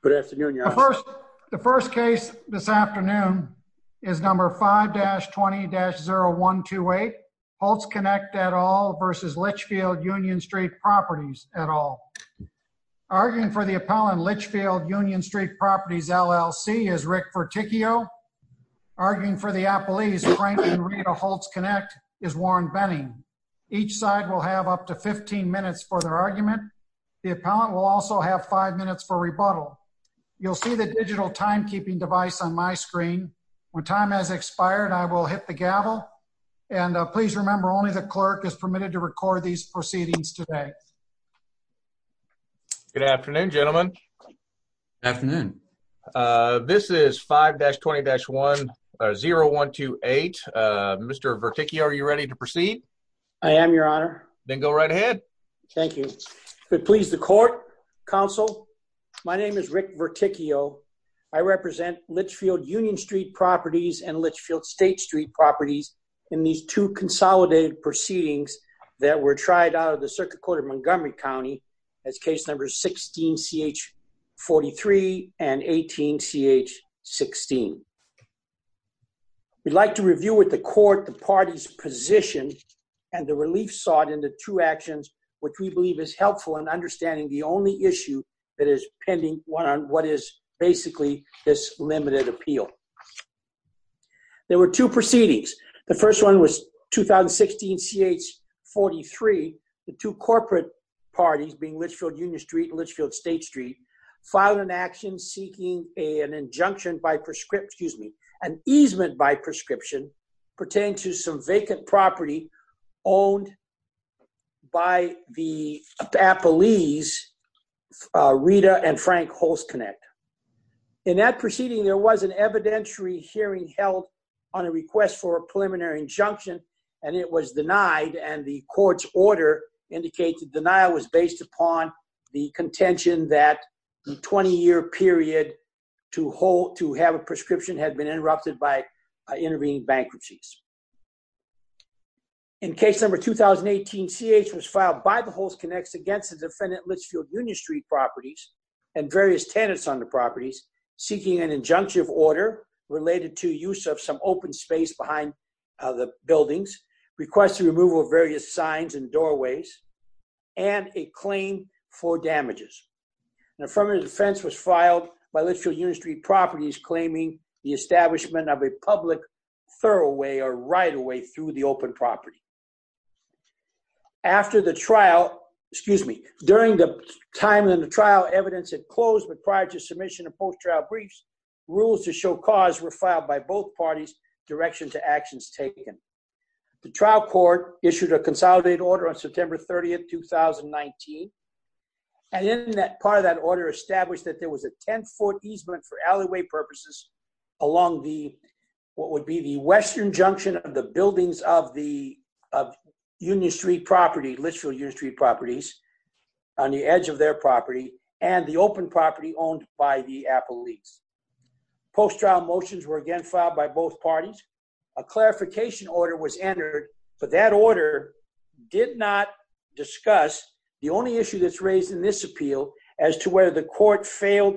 Good afternoon, Your Honor. The first case this afternoon is number 5-20-0128, Holzknecht et al. versus Litchfield Union St. Properties et al. Arguing for the appellant, Litchfield Union St. Properties, LLC, is Rick Ferticchio. Arguing for the appellees, Franklin Reed of Holzknecht is Warren Benning. Each side will have up to 15 minutes for their argument. The appellant will also have five minutes for rebuttal. You'll see the digital timekeeping device on my screen. When time has expired, I will hit the gavel. And please remember, only the clerk is permitted to record these proceedings today. Good afternoon, gentlemen. Afternoon. This is 5-20-0128. Mr. Ferticchio, are you ready to proceed? I am, Your Honor. Then go right ahead. Thank you. Could it please the court, counsel? My name is Rick Ferticchio. I represent Litchfield Union St. Properties and Litchfield State St. Properties in these two consolidated proceedings that were tried out of the Circuit Court of Montgomery County as case numbers 16-CH-43 and 18-CH-16. We'd like to review with the court the party's position and the relief sought in the two actions which we believe is helpful in understanding the only issue that is pending, one on what is basically this limited appeal. There were two proceedings. The first one was 2016-CH-43. The two corporate parties, being Litchfield Union St. and Litchfield State St., filed an action seeking an injunction by, excuse me, an easement by prescription pertaining to some vacant property owned by the Appalese, Rita and Frank Holzknecht. In that proceeding, there was an evidentiary hearing held on a request for a preliminary injunction, and it was denied, and the court's order indicates the denial was based upon the contention that the 20-year period to have a prescription had been interrupted by intervening bankruptcies. In case number 2018-CH was filed by the Holzknechts against the defendant Litchfield Union St. Properties and various tenants on the properties seeking an injunctive order related to use of some open space behind the buildings, requested removal of various signs and doorways, and a claim for damages. An affirmative defense was filed by Litchfield Union St. Properties claiming the establishment of a public thoroughway or right-of-way through the open property. After the trial, excuse me, during the time that the trial evidence had closed but prior to submission of post-trial briefs, rules to show cause were filed by both parties, direction to actions taken. The trial court issued a consolidated order on September 30th, 2019, and in that part of that order established that there was a 10-foot easement for alleyway purposes along what would be the western junction of the buildings of the Union St. Property, Litchfield Union St. Properties on the edge of their property and the open property owned by the Apple Leagues. Post-trial motions were again filed by both parties. A clarification order was entered, but that order did not discuss the only issue that's raised in this appeal as to whether the court failed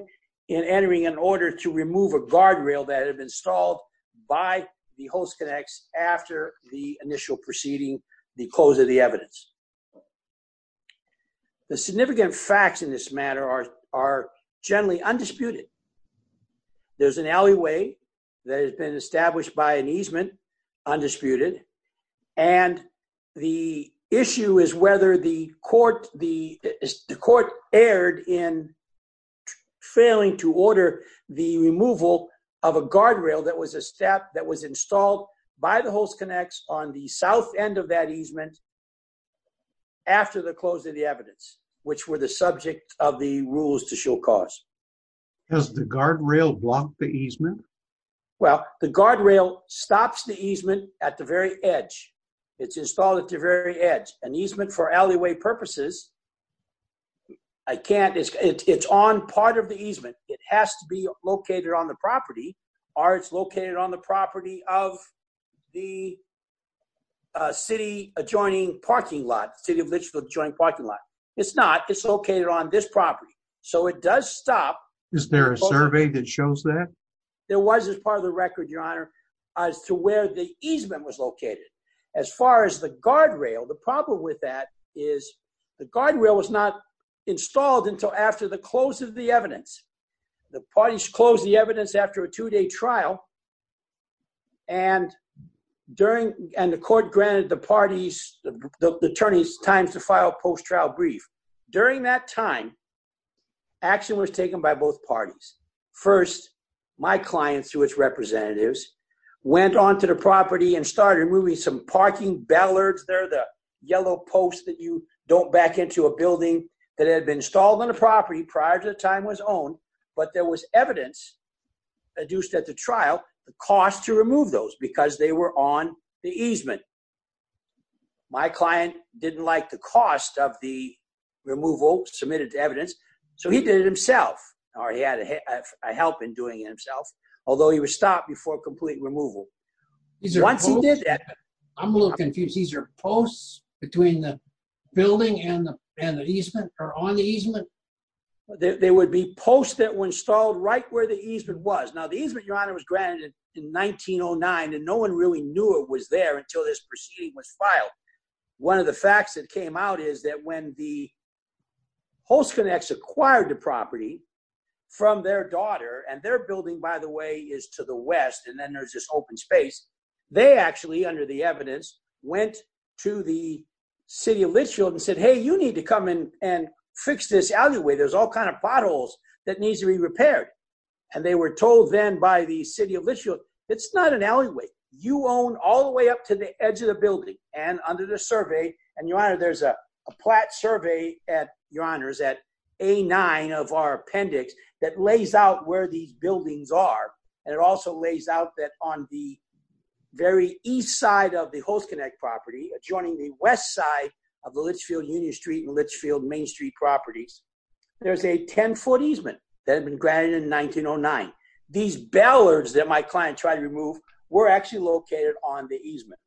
in entering an order to remove a guardrail that had been installed by the Host Connects after the initial proceeding, the close of the evidence. The significant facts in this matter are generally undisputed. There's an alleyway that has been established by an easement, undisputed, and the issue is whether the court, the court erred in failing to order the removal of a guardrail that was a step that was installed by the Host Connects on the south end of that easement after the close of the evidence, which were the subject of the rules to show cause. Does the guardrail block the easement? Well, the guardrail stops the easement at the very edge. It's installed at the very edge. An easement for alleyway purposes, I can't, it's on part of the easement. It has to be located on the property or it's located on the property of the city adjoining parking lot, the city of Litchfield adjoining parking lot. It's not, it's located on this property. So it does stop. Is there a survey that shows that? There was as part of the record, Your Honor, as to where the easement was located. As far as the guardrail, the problem with that is the guardrail was not installed until after the close of the evidence. The parties closed the evidence after a two-day trial. And during, and the court granted the parties, the attorneys time to file post-trial brief. During that time, action was taken by both parties. First, my clients through its representatives went onto the property and started removing some parking bellards. They're the yellow posts that you don't back into a building that had been installed on the property prior to the time was owned. But there was evidence adduced at the trial, the cost to remove those because they were on the easement. My client didn't like the cost of the removal submitted to evidence. So he did it himself or he had a help in doing it himself. Although he was stopped before complete removal. Once he did that- I'm a little confused. These are posts between the building and the easement or on the easement? They would be posts that were installed right where the easement was. Now the easement, Your Honor, was granted in 1909 and no one really knew it was there until this proceeding was filed. One of the facts that came out is that when the Host Connects acquired the property from their daughter and their building, by the way, is to the west and then there's this open space, they actually, under the evidence, went to the city of Litchfield and said, hey, you need to come in and fix this alleyway. There's all kinds of potholes that needs to be repaired. And they were told then by the city of Litchfield, it's not an alleyway. You own all the way up to the edge of the building. And under the survey, and Your Honor, there's a plat survey at, Your Honors, at A9 of our appendix that lays out where these buildings are. And it also lays out that on the very east side of the Host Connect property, adjoining the west side of the Litchfield Union Street and Litchfield Main Street properties, there's a 10-foot easement that had been granted in 1909. These ballards that my client tried to remove were actually located on the easement.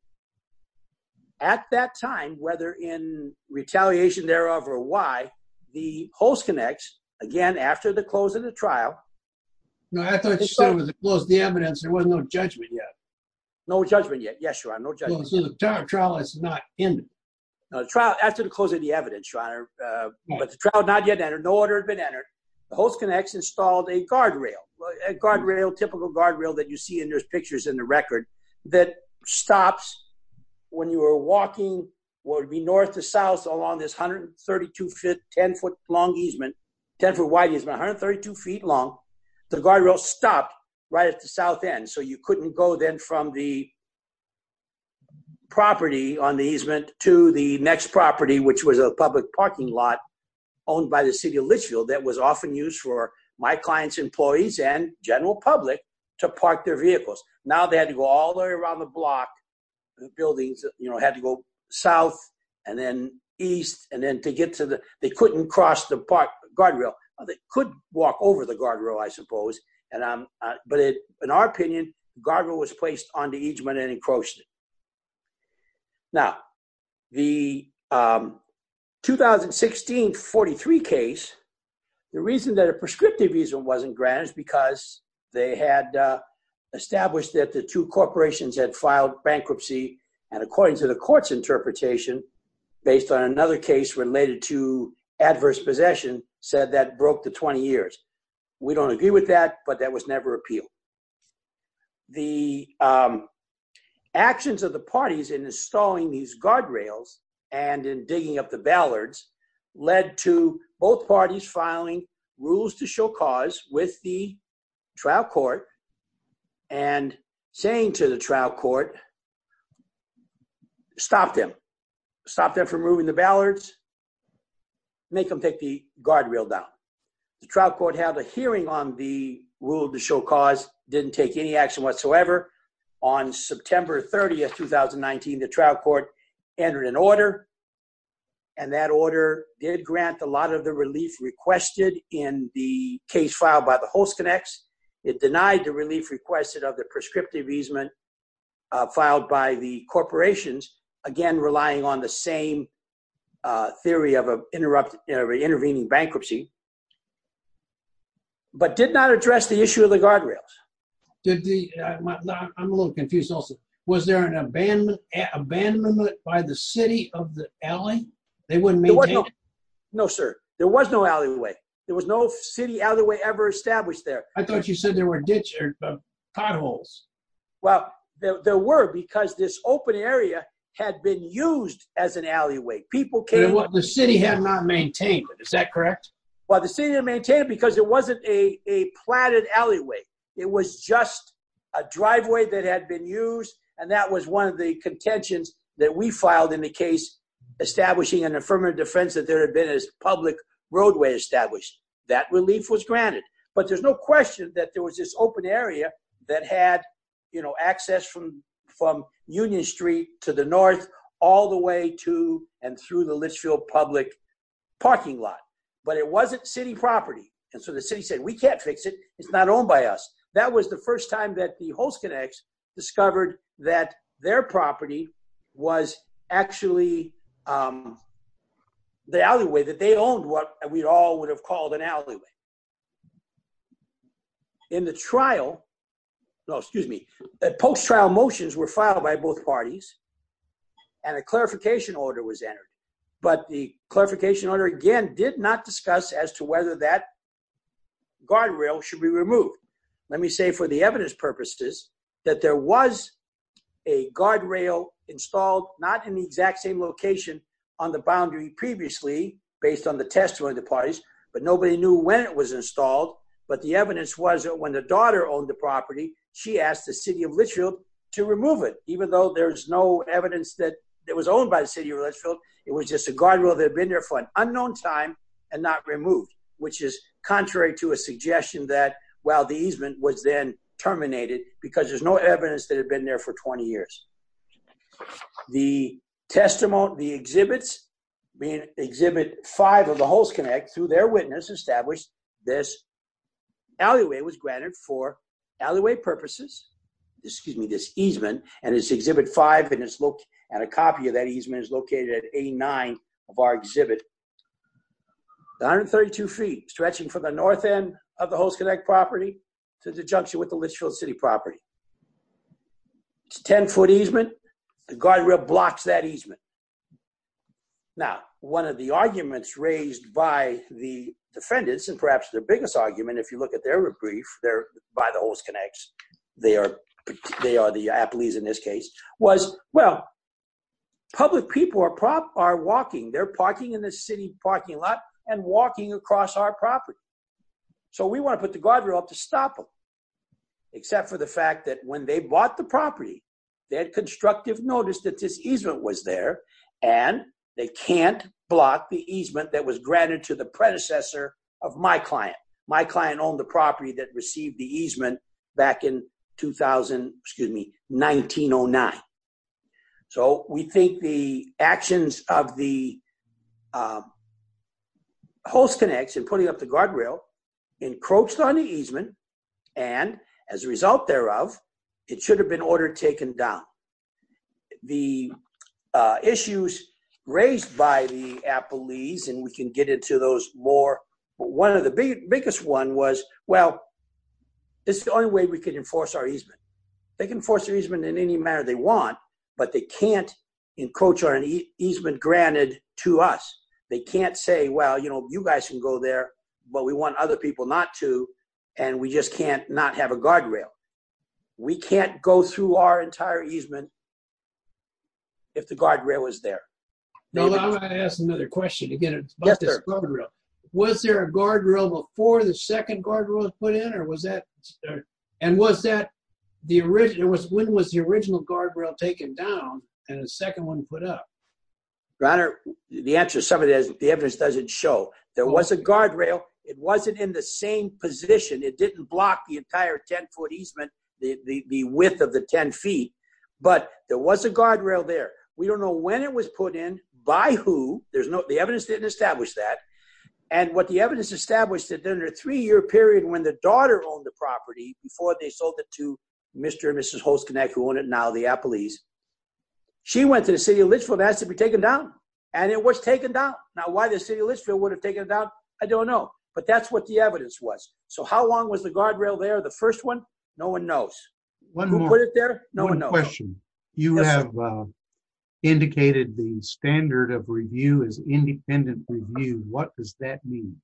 At that time, whether in retaliation thereof or why, the Host Connect, again, after the close of the trial- No, I thought you said with the close of the evidence, there was no judgment yet. No judgment yet. Yes, Your Honor, no judgment. So the trial has not ended. No, the trial, after the close of the evidence, Your Honor, but the trial had not yet entered, no order had been entered. The Host Connect installed a guardrail, a guardrail, typical guardrail that you see in those pictures in the record that stops when you are walking, would be north to south along this 132-foot, 10-foot-wide easement, 132 feet long. The guardrail stopped right at the south end. So you couldn't go then from the property on the easement to the next property, which was a public parking lot owned by the city of Litchfield that was often used for my client's employees and general public to park their vehicles. Now they had to go all the way around the block. The buildings had to go south and then east, and then to get to the, they couldn't cross the guardrail. They could walk over the guardrail, I suppose, but in our opinion, the guardrail was placed on the easement and encroached it. Now, the 2016-43 case, the reason that a prescriptive easement wasn't granted is because they had established that the two corporations had filed bankruptcy, and according to the court's interpretation, based on another case related to adverse possession, said that broke the 20 years. We don't agree with that, but that was never appealed. The actions of the parties in installing these guardrails and in digging up the ballards led to both parties filing rules to show cause with the trial court and saying to the trial court, stop them, stop them from moving the ballards, make them take the guardrail down. The trial court held a hearing on the rule to show cause, didn't take any action whatsoever. On September 30th, 2019, the trial court entered an order, and that order did grant a lot of the relief requested in the case filed by the Host Connects. It denied the relief requested of the prescriptive easement filed by the corporations, again, relying on the same theory of an intervening bankruptcy, but did not address the issue of the guardrails. I'm a little confused also. Was there an abandonment by the city of LA? They wouldn't maintain it? No, sir, there was no alleyway. There was no city alleyway ever established there. I thought you said there were ditches or potholes. Well, there were, because this open area had been used as an alleyway. People came- The city had not maintained it, is that correct? Well, the city didn't maintain it because it wasn't a platted alleyway. It was just a driveway that had been used, and that was one of the contentions that we filed in the case establishing an affirmative defense that there had been a public roadway established. That relief was granted, but there's no question that there was this open area that had access from Union Street to the north all the way to and through the Litchfield public parking lot, but it wasn't city property, and so the city said, we can't fix it. It's not owned by us. That was the first time that the Holst Connects discovered that their property was actually the alleyway that they owned, what we'd all would have called an alleyway. In the trial, no, excuse me, that post-trial motions were filed by both parties, and a clarification order was entered, but the clarification order, again, did not discuss as to whether that guardrail should be removed. Let me say for the evidence purposes that there was a guardrail installed not in the exact same location on the boundary previously based on the testimony of the parties, but nobody knew when it was installed, but the evidence was that when the daughter owned the property, she asked the city of Litchfield to remove it even though there's no evidence that it was owned by the city of Litchfield. It was just a guardrail that had been there for an unknown time and not removed, which is contrary to a suggestion that, well, the easement was then terminated because there's no evidence that it had been there for 20 years. The testimony, the exhibits, mean exhibit five of the Hulse Connect, through their witness, established this alleyway was granted for alleyway purposes, excuse me, this easement, and it's exhibit five and a copy of that easement is located at A9 of our exhibit. 132 feet, stretching from the north end of the Hulse Connect property to the junction with the Litchfield City property. It's a 10 foot easement, the guardrail blocks that easement. Now, one of the arguments raised by the defendants and perhaps their biggest argument, if you look at their brief, they're by the Hulse Connects, they are the Appleys in this case, was, well, public people are walking, they're parking in the city parking lot and walking across our property. So we wanna put the guardrail up to stop them, except for the fact that when they bought the property, they had constructive notice that this easement was there, and they can't block the easement that was granted to the predecessor of my client. My client owned the property that received the easement back in 2000, excuse me, 1909. So we think the actions of the Hulse Connects in putting up the guardrail, encroached on the easement, and as a result thereof, it should have been ordered taken down. The issues raised by the Appleys, and we can get into those more, but one of the biggest one was, well, this is the only way we can enforce our easement. They can force the easement in any manner they want, but they can't encroach on an easement granted to us. They can't say, well, you guys can go there, but we want other people not to, and we just can't not have a guardrail. We can't go through our entire easement if the guardrail was there. Now, I'm gonna ask another question, again, about this guardrail. Was there a guardrail before the second guardrail was put in or was that, and was that the original, when was the original guardrail taken down and the second one put up? Your Honor, the answer to some of this, the evidence doesn't show. There was a guardrail. It wasn't in the same position. It didn't block the entire 10-foot easement, the width of the 10 feet, but there was a guardrail there. We don't know when it was put in, by who. The evidence didn't establish that, and what the evidence established that under a three-year period when the daughter owned the property before they sold it to Mr. and Mrs. Holtz-Konek, who own it now, the Appleys, she went to the city of Litchfield and asked to be taken down, and it was taken down. Now, why the city of Litchfield would have taken it down, I don't know, but that's what the evidence was. So how long was the guardrail there, the first one? No one knows. Who put it there? No one knows. One question. You have indicated the standard of review is independent review. What does that mean?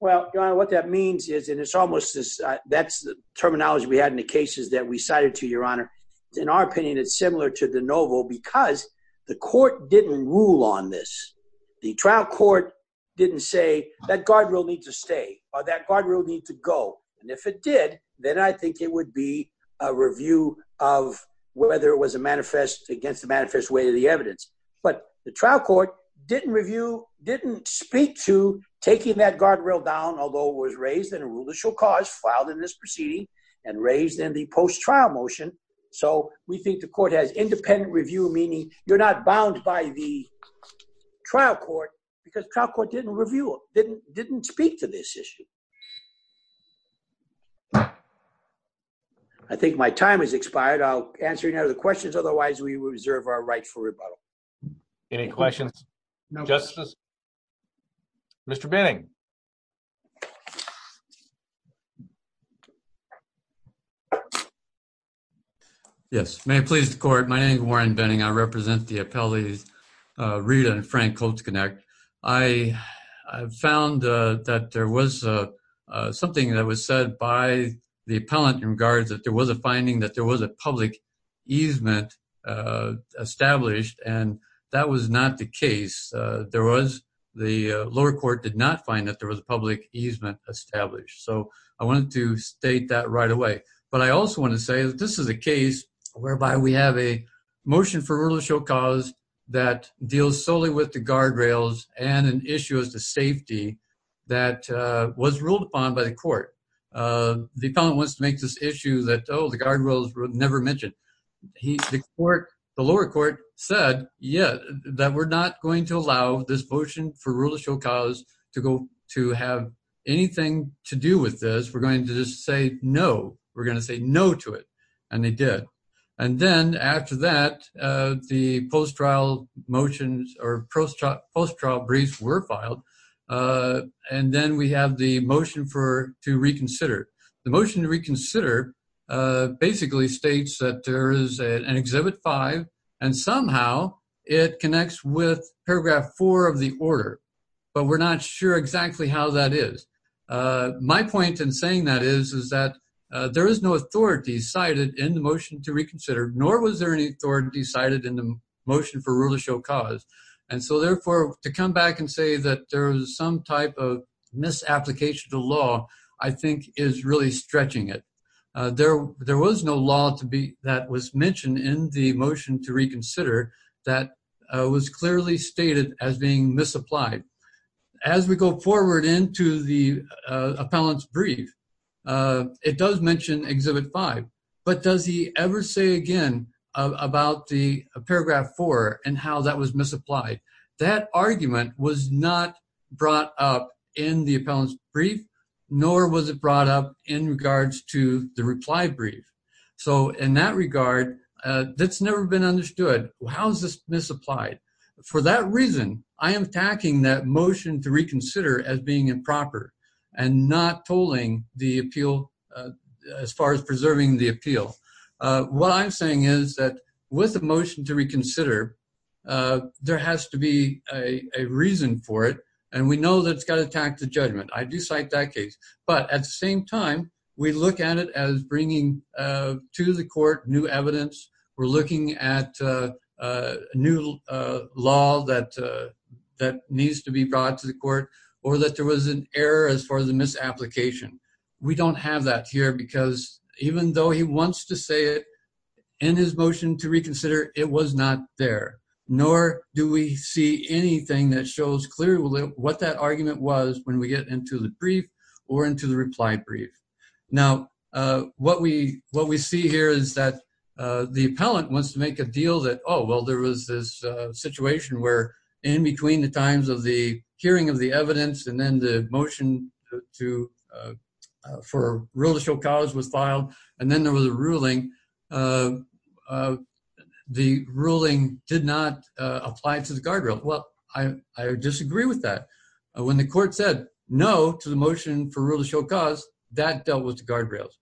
Well, Your Honor, what that means is, and it's almost this, that's the terminology we had in the cases that we cited to you, Your Honor. In our opinion, it's similar to the NOVO because the court didn't rule on this. The trial court didn't say that guardrail need to stay or that guardrail need to go. And if it did, then I think it would be a review of whether it was a manifest against the manifest way of the evidence. But the trial court didn't review, didn't speak to taking that guardrail down, although it was raised in a rule that shall cause filed in this proceeding and raised in the post-trial motion. So we think the court has independent review, meaning you're not bound by the trial court because trial court didn't review it, didn't speak to this issue. I think my time has expired. I'll answer any other questions. Otherwise we reserve our right for rebuttal. Any questions? No. Mr. Benning. Yes, may it please the court. My name is Warren Benning. I represent the appellees, Rita and Frank Colts-Konek. I found that there was something that was said by the appellant in regards that there was a finding that there was a public easement established and that was not the case. There was, the lower court did not find that there was a public easement established. So I wanted to state that right away. But I also wanna say that this is a case whereby we have a motion for rule of show cause that deals solely with the guardrails and an issue as to safety that was ruled upon by the court. The appellant wants to make this issue that, oh, the guardrails were never mentioned. The lower court said, yeah, that we're not going to allow this motion for rule of show cause to have anything to do with this. We're going to just say no. We're gonna say no to it. And they did. And then after that, the post-trial motions or post-trial briefs were filed. And then we have the motion to reconsider. The motion to reconsider basically states that there is an exhibit five and somehow it connects with paragraph four of the order, but we're not sure exactly how that is. My point in saying that is, is that there is no authority cited in the motion to reconsider, nor was there any authority cited in the motion for rule of show cause. And so therefore to come back and say that there was some type of misapplication to law, I think is really stretching it. There was no law that was mentioned in the motion to reconsider that was clearly stated as being misapplied. As we go forward into the appellant's brief, it does mention exhibit five, but does he ever say again about the paragraph four and how that was misapplied? That argument was not brought up in the appellant's brief, nor was it brought up in regards to the reply brief. So in that regard, that's never been understood. How is this misapplied? For that reason, I am attacking that motion to reconsider as being improper and not tolling the appeal as far as preserving the appeal. What I'm saying is that with the motion to reconsider, there has to be a reason for it. And we know that it's got to attack the judgment. I do cite that case. But at the same time, we look at it as bringing to the court new evidence. We're looking at a new law that needs to be brought to the court or that there was an error as far as the misapplication. We don't have that here because even though he wants to say it in his motion to reconsider, it was not there. Nor do we see anything that shows clearly what that argument was when we get into the brief or into the reply brief. Now, what we see here is that the appellant wants to make a deal that, oh, well, there was this situation where in between the times of the hearing of the evidence and then the motion for a rule to show cause was filed, and then there was a ruling, the ruling did not apply to the guardrail. Well, I disagree with that. When the court said no to the motion for rule to show cause, that dealt with the guardrails.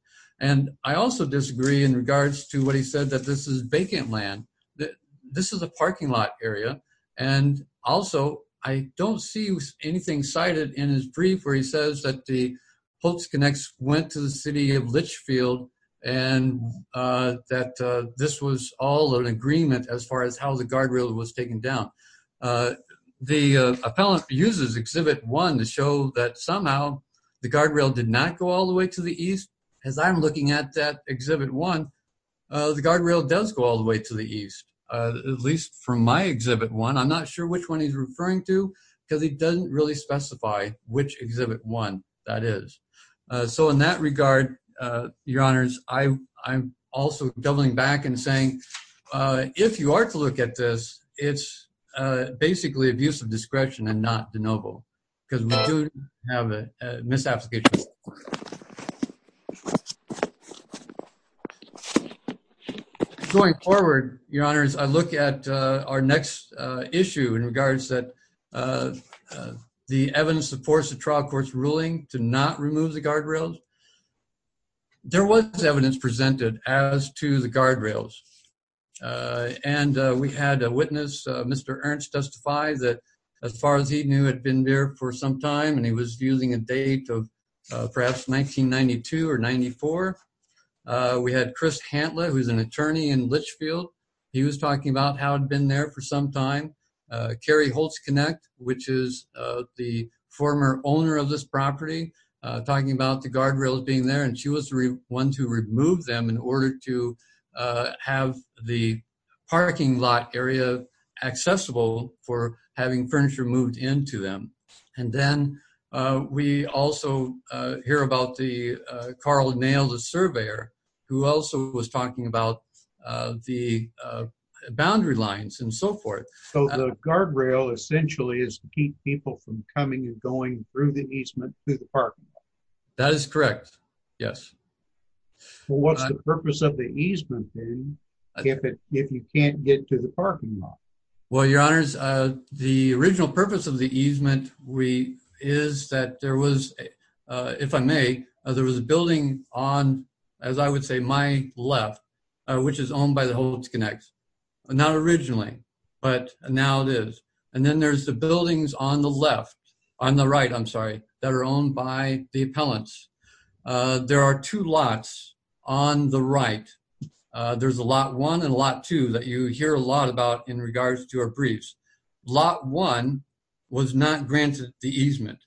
And I also disagree in regards to what he said that this is vacant land, that this is a parking lot area. And also, I don't see anything cited in his brief where he says that the Polk's Connects went to the city of Litchfield and that this was all an agreement as far as how the guardrail was taken down. The appellant uses Exhibit 1 to show that somehow the guardrail did not go all the way to the east. As I'm looking at that Exhibit 1, the guardrail does go all the way to the east, at least from my Exhibit 1. I'm not sure which one he's referring to because he doesn't really specify which Exhibit 1 that is. So in that regard, your honors, I'm also doubling back and saying, if you are to look at this, it's basically abuse of discretion and not de novo because we do have a misapplication. Going forward, your honors, I look at our next issue in regards that the evidence supports the trial court's ruling to not remove the guardrails. There was evidence presented as to the guardrails. And we had a witness, Mr. Ernst, testify that, as far as he knew, had been there for some time and he was using a date of perhaps 1992 or 94. We had Chris Hantlett, who's an attorney in Litchfield. He was talking about how he'd been there for some time. Carrie Holtzknecht, which is the former owner of this property, talking about the guardrails being there, and she was the one to remove them in order to have the parking lot area accessible for having furniture moved into them. And then we also hear about the Carl Nail, the surveyor, who also was talking about the boundary lines and so forth. So the guardrail essentially is to keep people from coming and going through the easement to the parking lot. That is correct, yes. Well, what's the purpose of the easement then if you can't get to the parking lot? Well, your honors, the original purpose of the easement is that there was, if I may, there was a building on, as I would say, my left, which is owned by the Holtzknecht. Not originally, but now it is. And then there's the buildings on the left, on the right, I'm sorry, that are owned by the appellants. There are two lots on the right. There's a lot one and a lot two that you hear a lot about in regards to our briefs. Lot one was not granted the easement.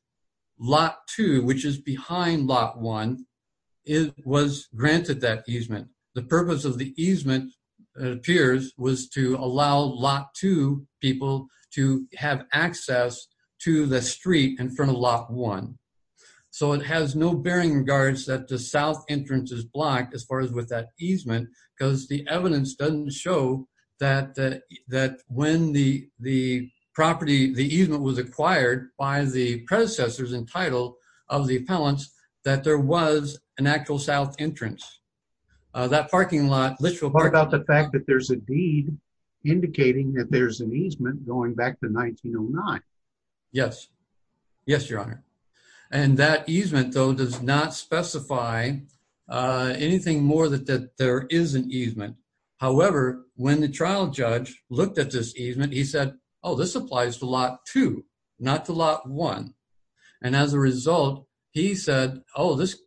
Lot two, which is behind lot one, it was granted that easement. The purpose of the easement, it appears, was to allow lot two people to have access to the street in front of lot one. So it has no bearing in regards that the south entrance is blocked as far as with that easement because the evidence doesn't show that when the property, the easement was acquired by the predecessors entitled of the appellants, that there was an actual south entrance. That parking lot, Litchfield Park- What about the fact that there's a deed indicating that there's an easement going back to 1909? Yes. Yes, Your Honor. And that easement, though, does not specify anything more that there is an easement. However, when the trial judge looked at this easement, he said, oh, this applies to lot two, not to lot one. And as a result, he said, oh, this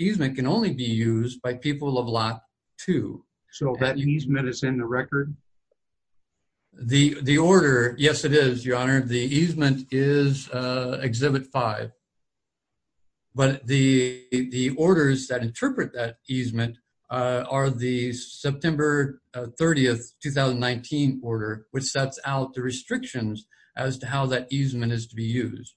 easement can only be used by people of lot two. So that easement is in the record? The order, yes, it is, Your Honor. The easement is exhibit five. But the orders that interpret that easement are the September 30th, 2019 order, which sets out the restrictions as to how that easement is to be used.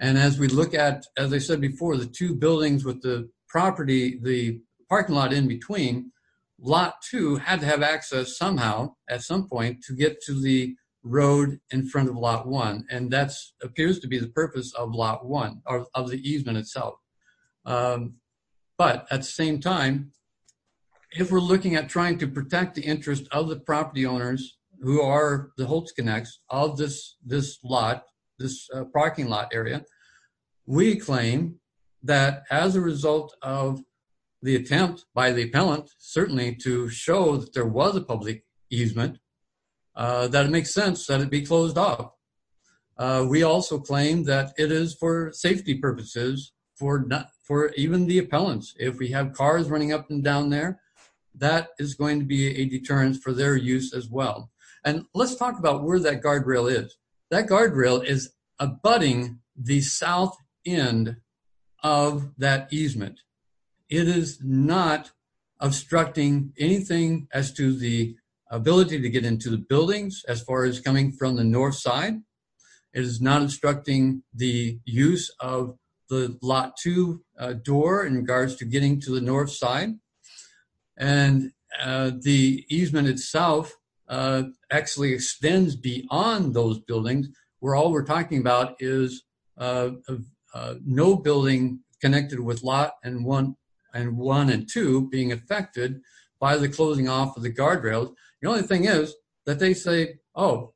And as we look at, as I said before, the two buildings with the property, the parking lot in between, lot two had to have access somehow at some point to get to the road in front of lot one. And that appears to be the purpose of lot one, or of the easement itself. But at the same time, if we're looking at trying to protect the interest of the property owners who are the Holtz Connects of this lot, this parking lot area, we claim that as a result of the attempt by the appellant, certainly to show that there was a public easement, that it makes sense that it be closed off. We also claim that it is for safety purposes, for even the appellants. If we have cars running up and down there, that is going to be a deterrence for their use as well. And let's talk about where that guardrail is. That guardrail is abutting the south end of that easement. It is not obstructing anything as to the ability to get into the buildings as far as coming from the north side. It is not obstructing the use of the lot two door in regards to getting to the north side. And the easement itself actually extends beyond those buildings, where all we're talking about is no building connected with lot one and two being affected by the closing off of the guardrails. The only thing is that they say, oh,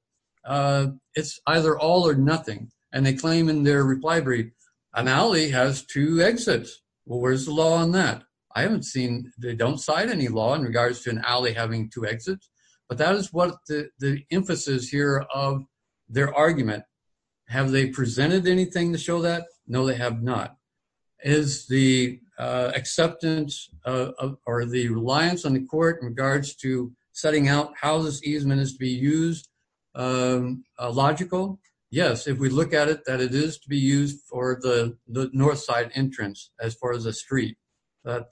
it's either all or nothing. And they claim in their reply brief, an alley has two exits. Well, where's the law on that? I haven't seen, they don't cite any law in regards to an alley having two exits, but that is what the emphasis here of their argument. Have they presented anything to show that? No, they have not. Is the acceptance or the reliance on the court in regards to setting out how this easement is to be used logical? Yes, if we look at it, that it is to be used for the north side entrance as far as a street that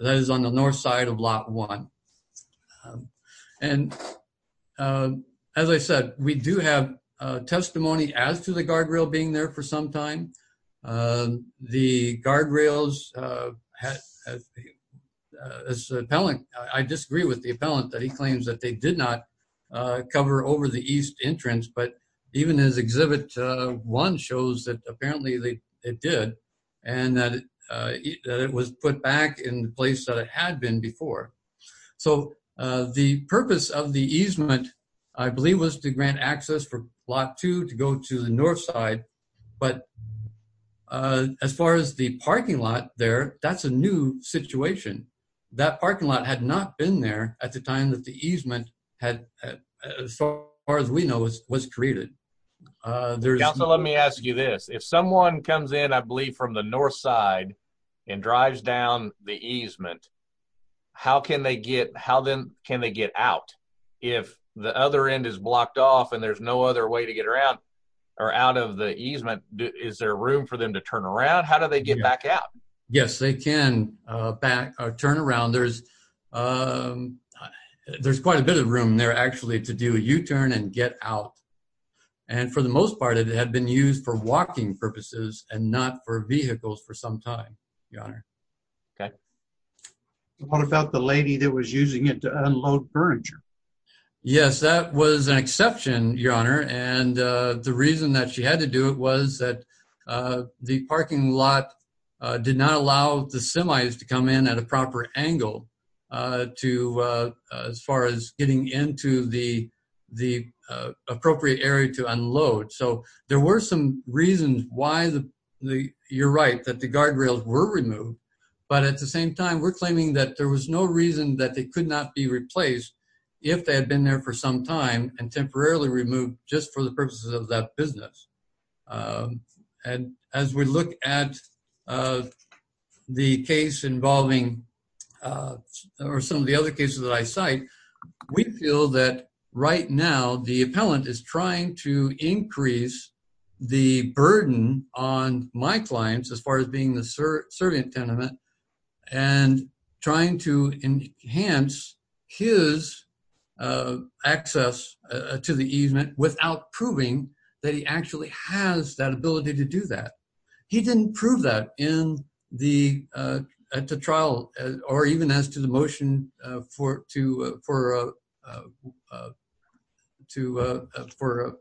is on the north side of lot one. And as I said, we do have testimony as to the guardrail being there for some time. The guardrails, I disagree with the appellant that he claims that they did not cover over the east entrance, but even as exhibit one shows that apparently they did, and that it was put back in the place that it had been before. So the purpose of the easement, I believe was to grant access for lot two to go to the north side, but as far as the parking lot there, that's a new situation. That parking lot had not been there at the time that the easement had, as far as we know, was created. There's- Counselor, let me ask you this. If someone comes in, I believe from the north side and drives down the easement, how can they get, how then can they get out? If the other end is blocked off and there's no other way to get around or out of the easement, is there room for them to turn around? How do they get back out? Yes, they can turn around. There's quite a bit of room there actually to do a U-turn and get out. And for the most part, it had been used for walking purposes and not for vehicles for some time, Your Honor. Okay. Yes, that was an exception, Your Honor, and the reason that she had to do it was that the parking lot did not allow the semis to come in at a proper angle as far as getting into the appropriate area to unload. So there were some reasons why the, you're right, that the guardrails were removed, but at the same time, we're claiming that there was no reason that they could not be replaced if they had been there for some time and temporarily removed just for the purposes of that business. And as we look at the case involving, or some of the other cases that I cite, we feel that right now, the appellant is trying to increase the burden on my clients as far as being the servant tenement and trying to enhance his access to the easement without proving that he actually has that ability to do that. He didn't prove that in the trial or even as to the motion for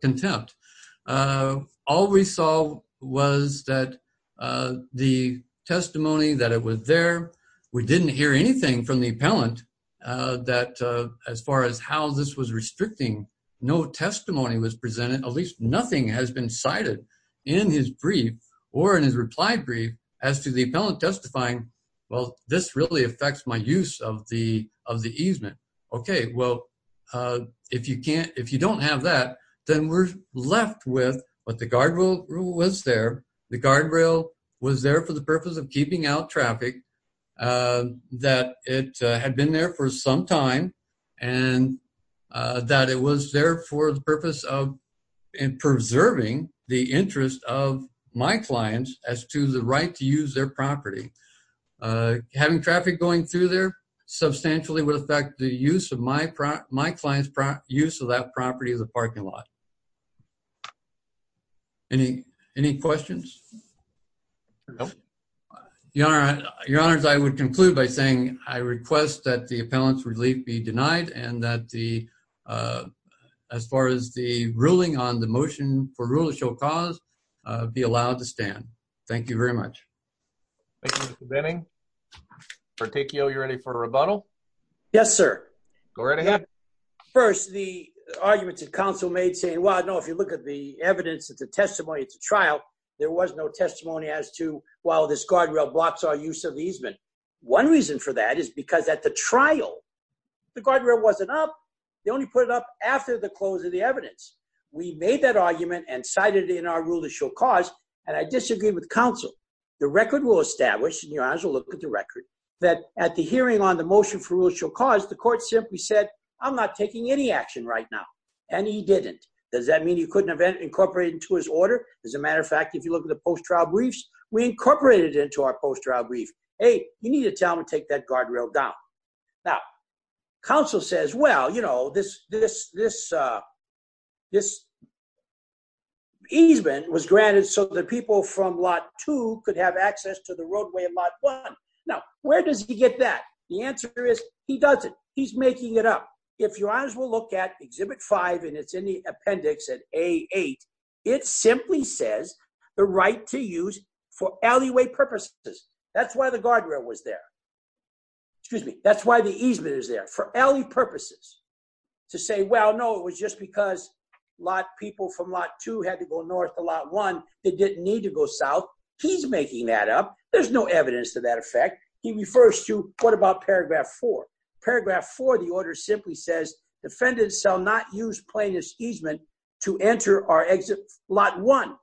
contempt. All we saw was that the testimony that it was there, we didn't hear anything from the appellant that as far as how this was restricting, no testimony was presented, at least nothing has been cited in his brief or in his reply brief as to the appellant testifying, well, this really affects my use of the easement. Okay, well, if you don't have that, then we're left with what the guardrail was there. The guardrail was there for the purpose of keeping out traffic that it had been there for some time and that it was there for the purpose of preserving the interest of my clients as to the right to use their property. Having traffic going through there substantially would affect the use of my client's, use of that property as a parking lot. Any questions? No. Your Honor, I would conclude by saying, I request that the appellant's relief be denied and that the, as far as the ruling on the motion for rule of show cause, be allowed to stand. Thank you very much. Thank you, Mr. Benning. Articcio, you ready for a rebuttal? Yes, sir. Go right ahead. First, the arguments that counsel made saying, well, I know if you look at the evidence that the testimony at the trial, there was no testimony as to, well, this guardrail blocks our use of easement. One reason for that is because at the trial, the guardrail wasn't up. They only put it up after the close of the evidence. We made that argument and cited it in our rule of show cause, and I disagree with counsel. The record will establish, and your Honor will look at the record, that at the hearing on the motion for rule of show cause, the court simply said, I'm not taking any action right now. And he didn't. Does that mean you couldn't have incorporated into his order? As a matter of fact, if you look at the post-trial briefs, we incorporated it into our post-trial brief. Hey, you need to tell him to take that guardrail down. Now, counsel says, well, this easement was granted so that people from lot two could have access to the roadway at lot one. Now, where does he get that? The answer is, he doesn't. He's making it up. If your Honors will look at exhibit five, and it's in the appendix at A8, it simply says the right to use for alleyway purposes. That's why the guardrail was there. Excuse me. That's why the easement is there, for alley purposes. To say, well, no, it was just because lot people from lot two had to go north to lot one. They didn't need to go south. He's making that up. There's no evidence to that effect. He refers to, what about paragraph four? Paragraph four of the order simply says, defendants shall not use plaintiff's easement to enter or exit lot one.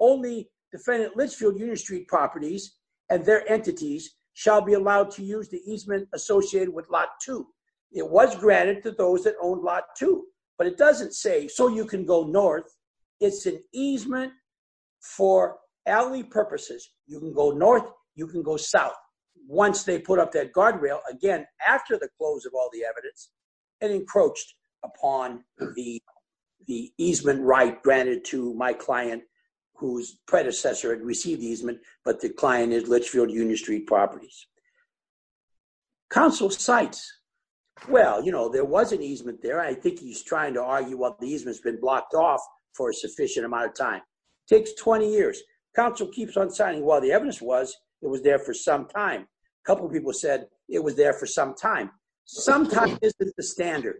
Only defendant Litchfield Union Street properties and their entities shall be allowed to use the easement associated with lot two. It was granted to those that owned lot two, but it doesn't say, so you can go north. It's an easement for alley purposes. You can go north, you can go south. Once they put up that guardrail, again, after the close of all the evidence, it encroached upon the easement right granted to my client, whose predecessor had received easement, but the client is Litchfield Union Street properties. Counsel cites, well, there was an easement there. I think he's trying to argue what the easement's been blocked off for a sufficient amount of time. Takes 20 years. Counsel keeps on citing, well, the evidence was it was there for some time. A couple of people said it was there for some time. Some time isn't the standard.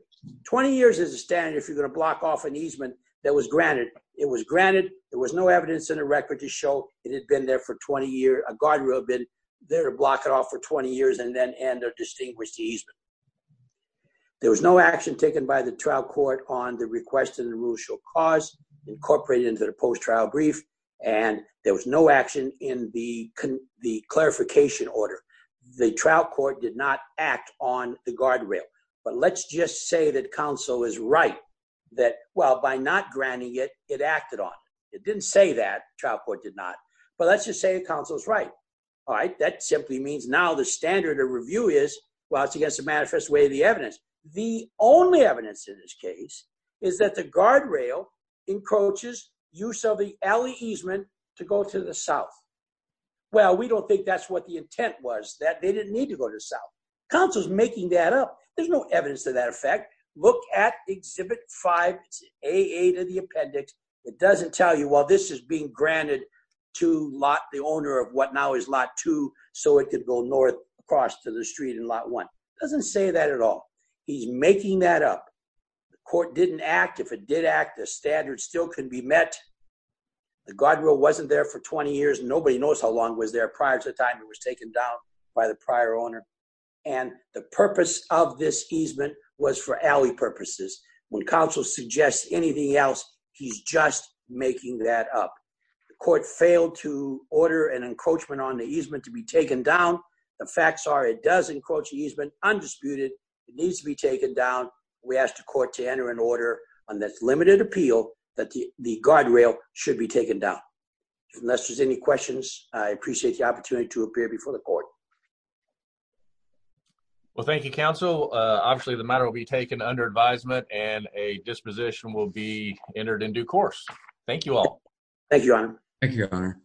20 years is a standard if you're gonna block off an easement that was granted. It was granted. There was no evidence in a record to show it had been there for 20 years. A guardrail had been there to block it off for 20 years and then end a distinguished easement. There was no action taken by the trial court on the request and the rule shall cause, incorporated into the post-trial brief, and there was no action in the clarification order. The trial court did not act on the guardrail. But let's just say that counsel is right that, well, by not granting it, it acted on. It didn't say that. Trial court did not. But let's just say that counsel's right, all right? That simply means now the standard of review is, well, it's against the manifest way of the evidence. The only evidence in this case is that the guardrail encroaches use of the alley easement to go to the south. Well, we don't think that's what the intent was, that they didn't need to go to the south. Counsel's making that up. There's no evidence to that effect. Look at Exhibit 5, it's AA to the appendix. It doesn't tell you, well, this is being granted to the owner of what now is Lot 2 so it could go north across to the street in Lot 1. Doesn't say that at all. He's making that up. The court didn't act. If it did act, the standard still couldn't be met. The guardrail wasn't there for 20 years and nobody knows how long it was there prior to the time it was taken down by the prior owner. And the purpose of this easement was for alley purposes. When counsel suggests anything else, he's just making that up. The court failed to order an encroachment on the easement to be taken down. The facts are it does encroach easement, undisputed. It needs to be taken down. We asked the court to enter an order on this limited appeal that the guardrail should be taken down. Unless there's any questions, I appreciate the opportunity to appear before the court. Well, thank you, counsel. Obviously, the matter will be taken under advisement and a disposition will be entered in due course. Thank you all. Thank you, Your Honor. Thank you, Your Honor.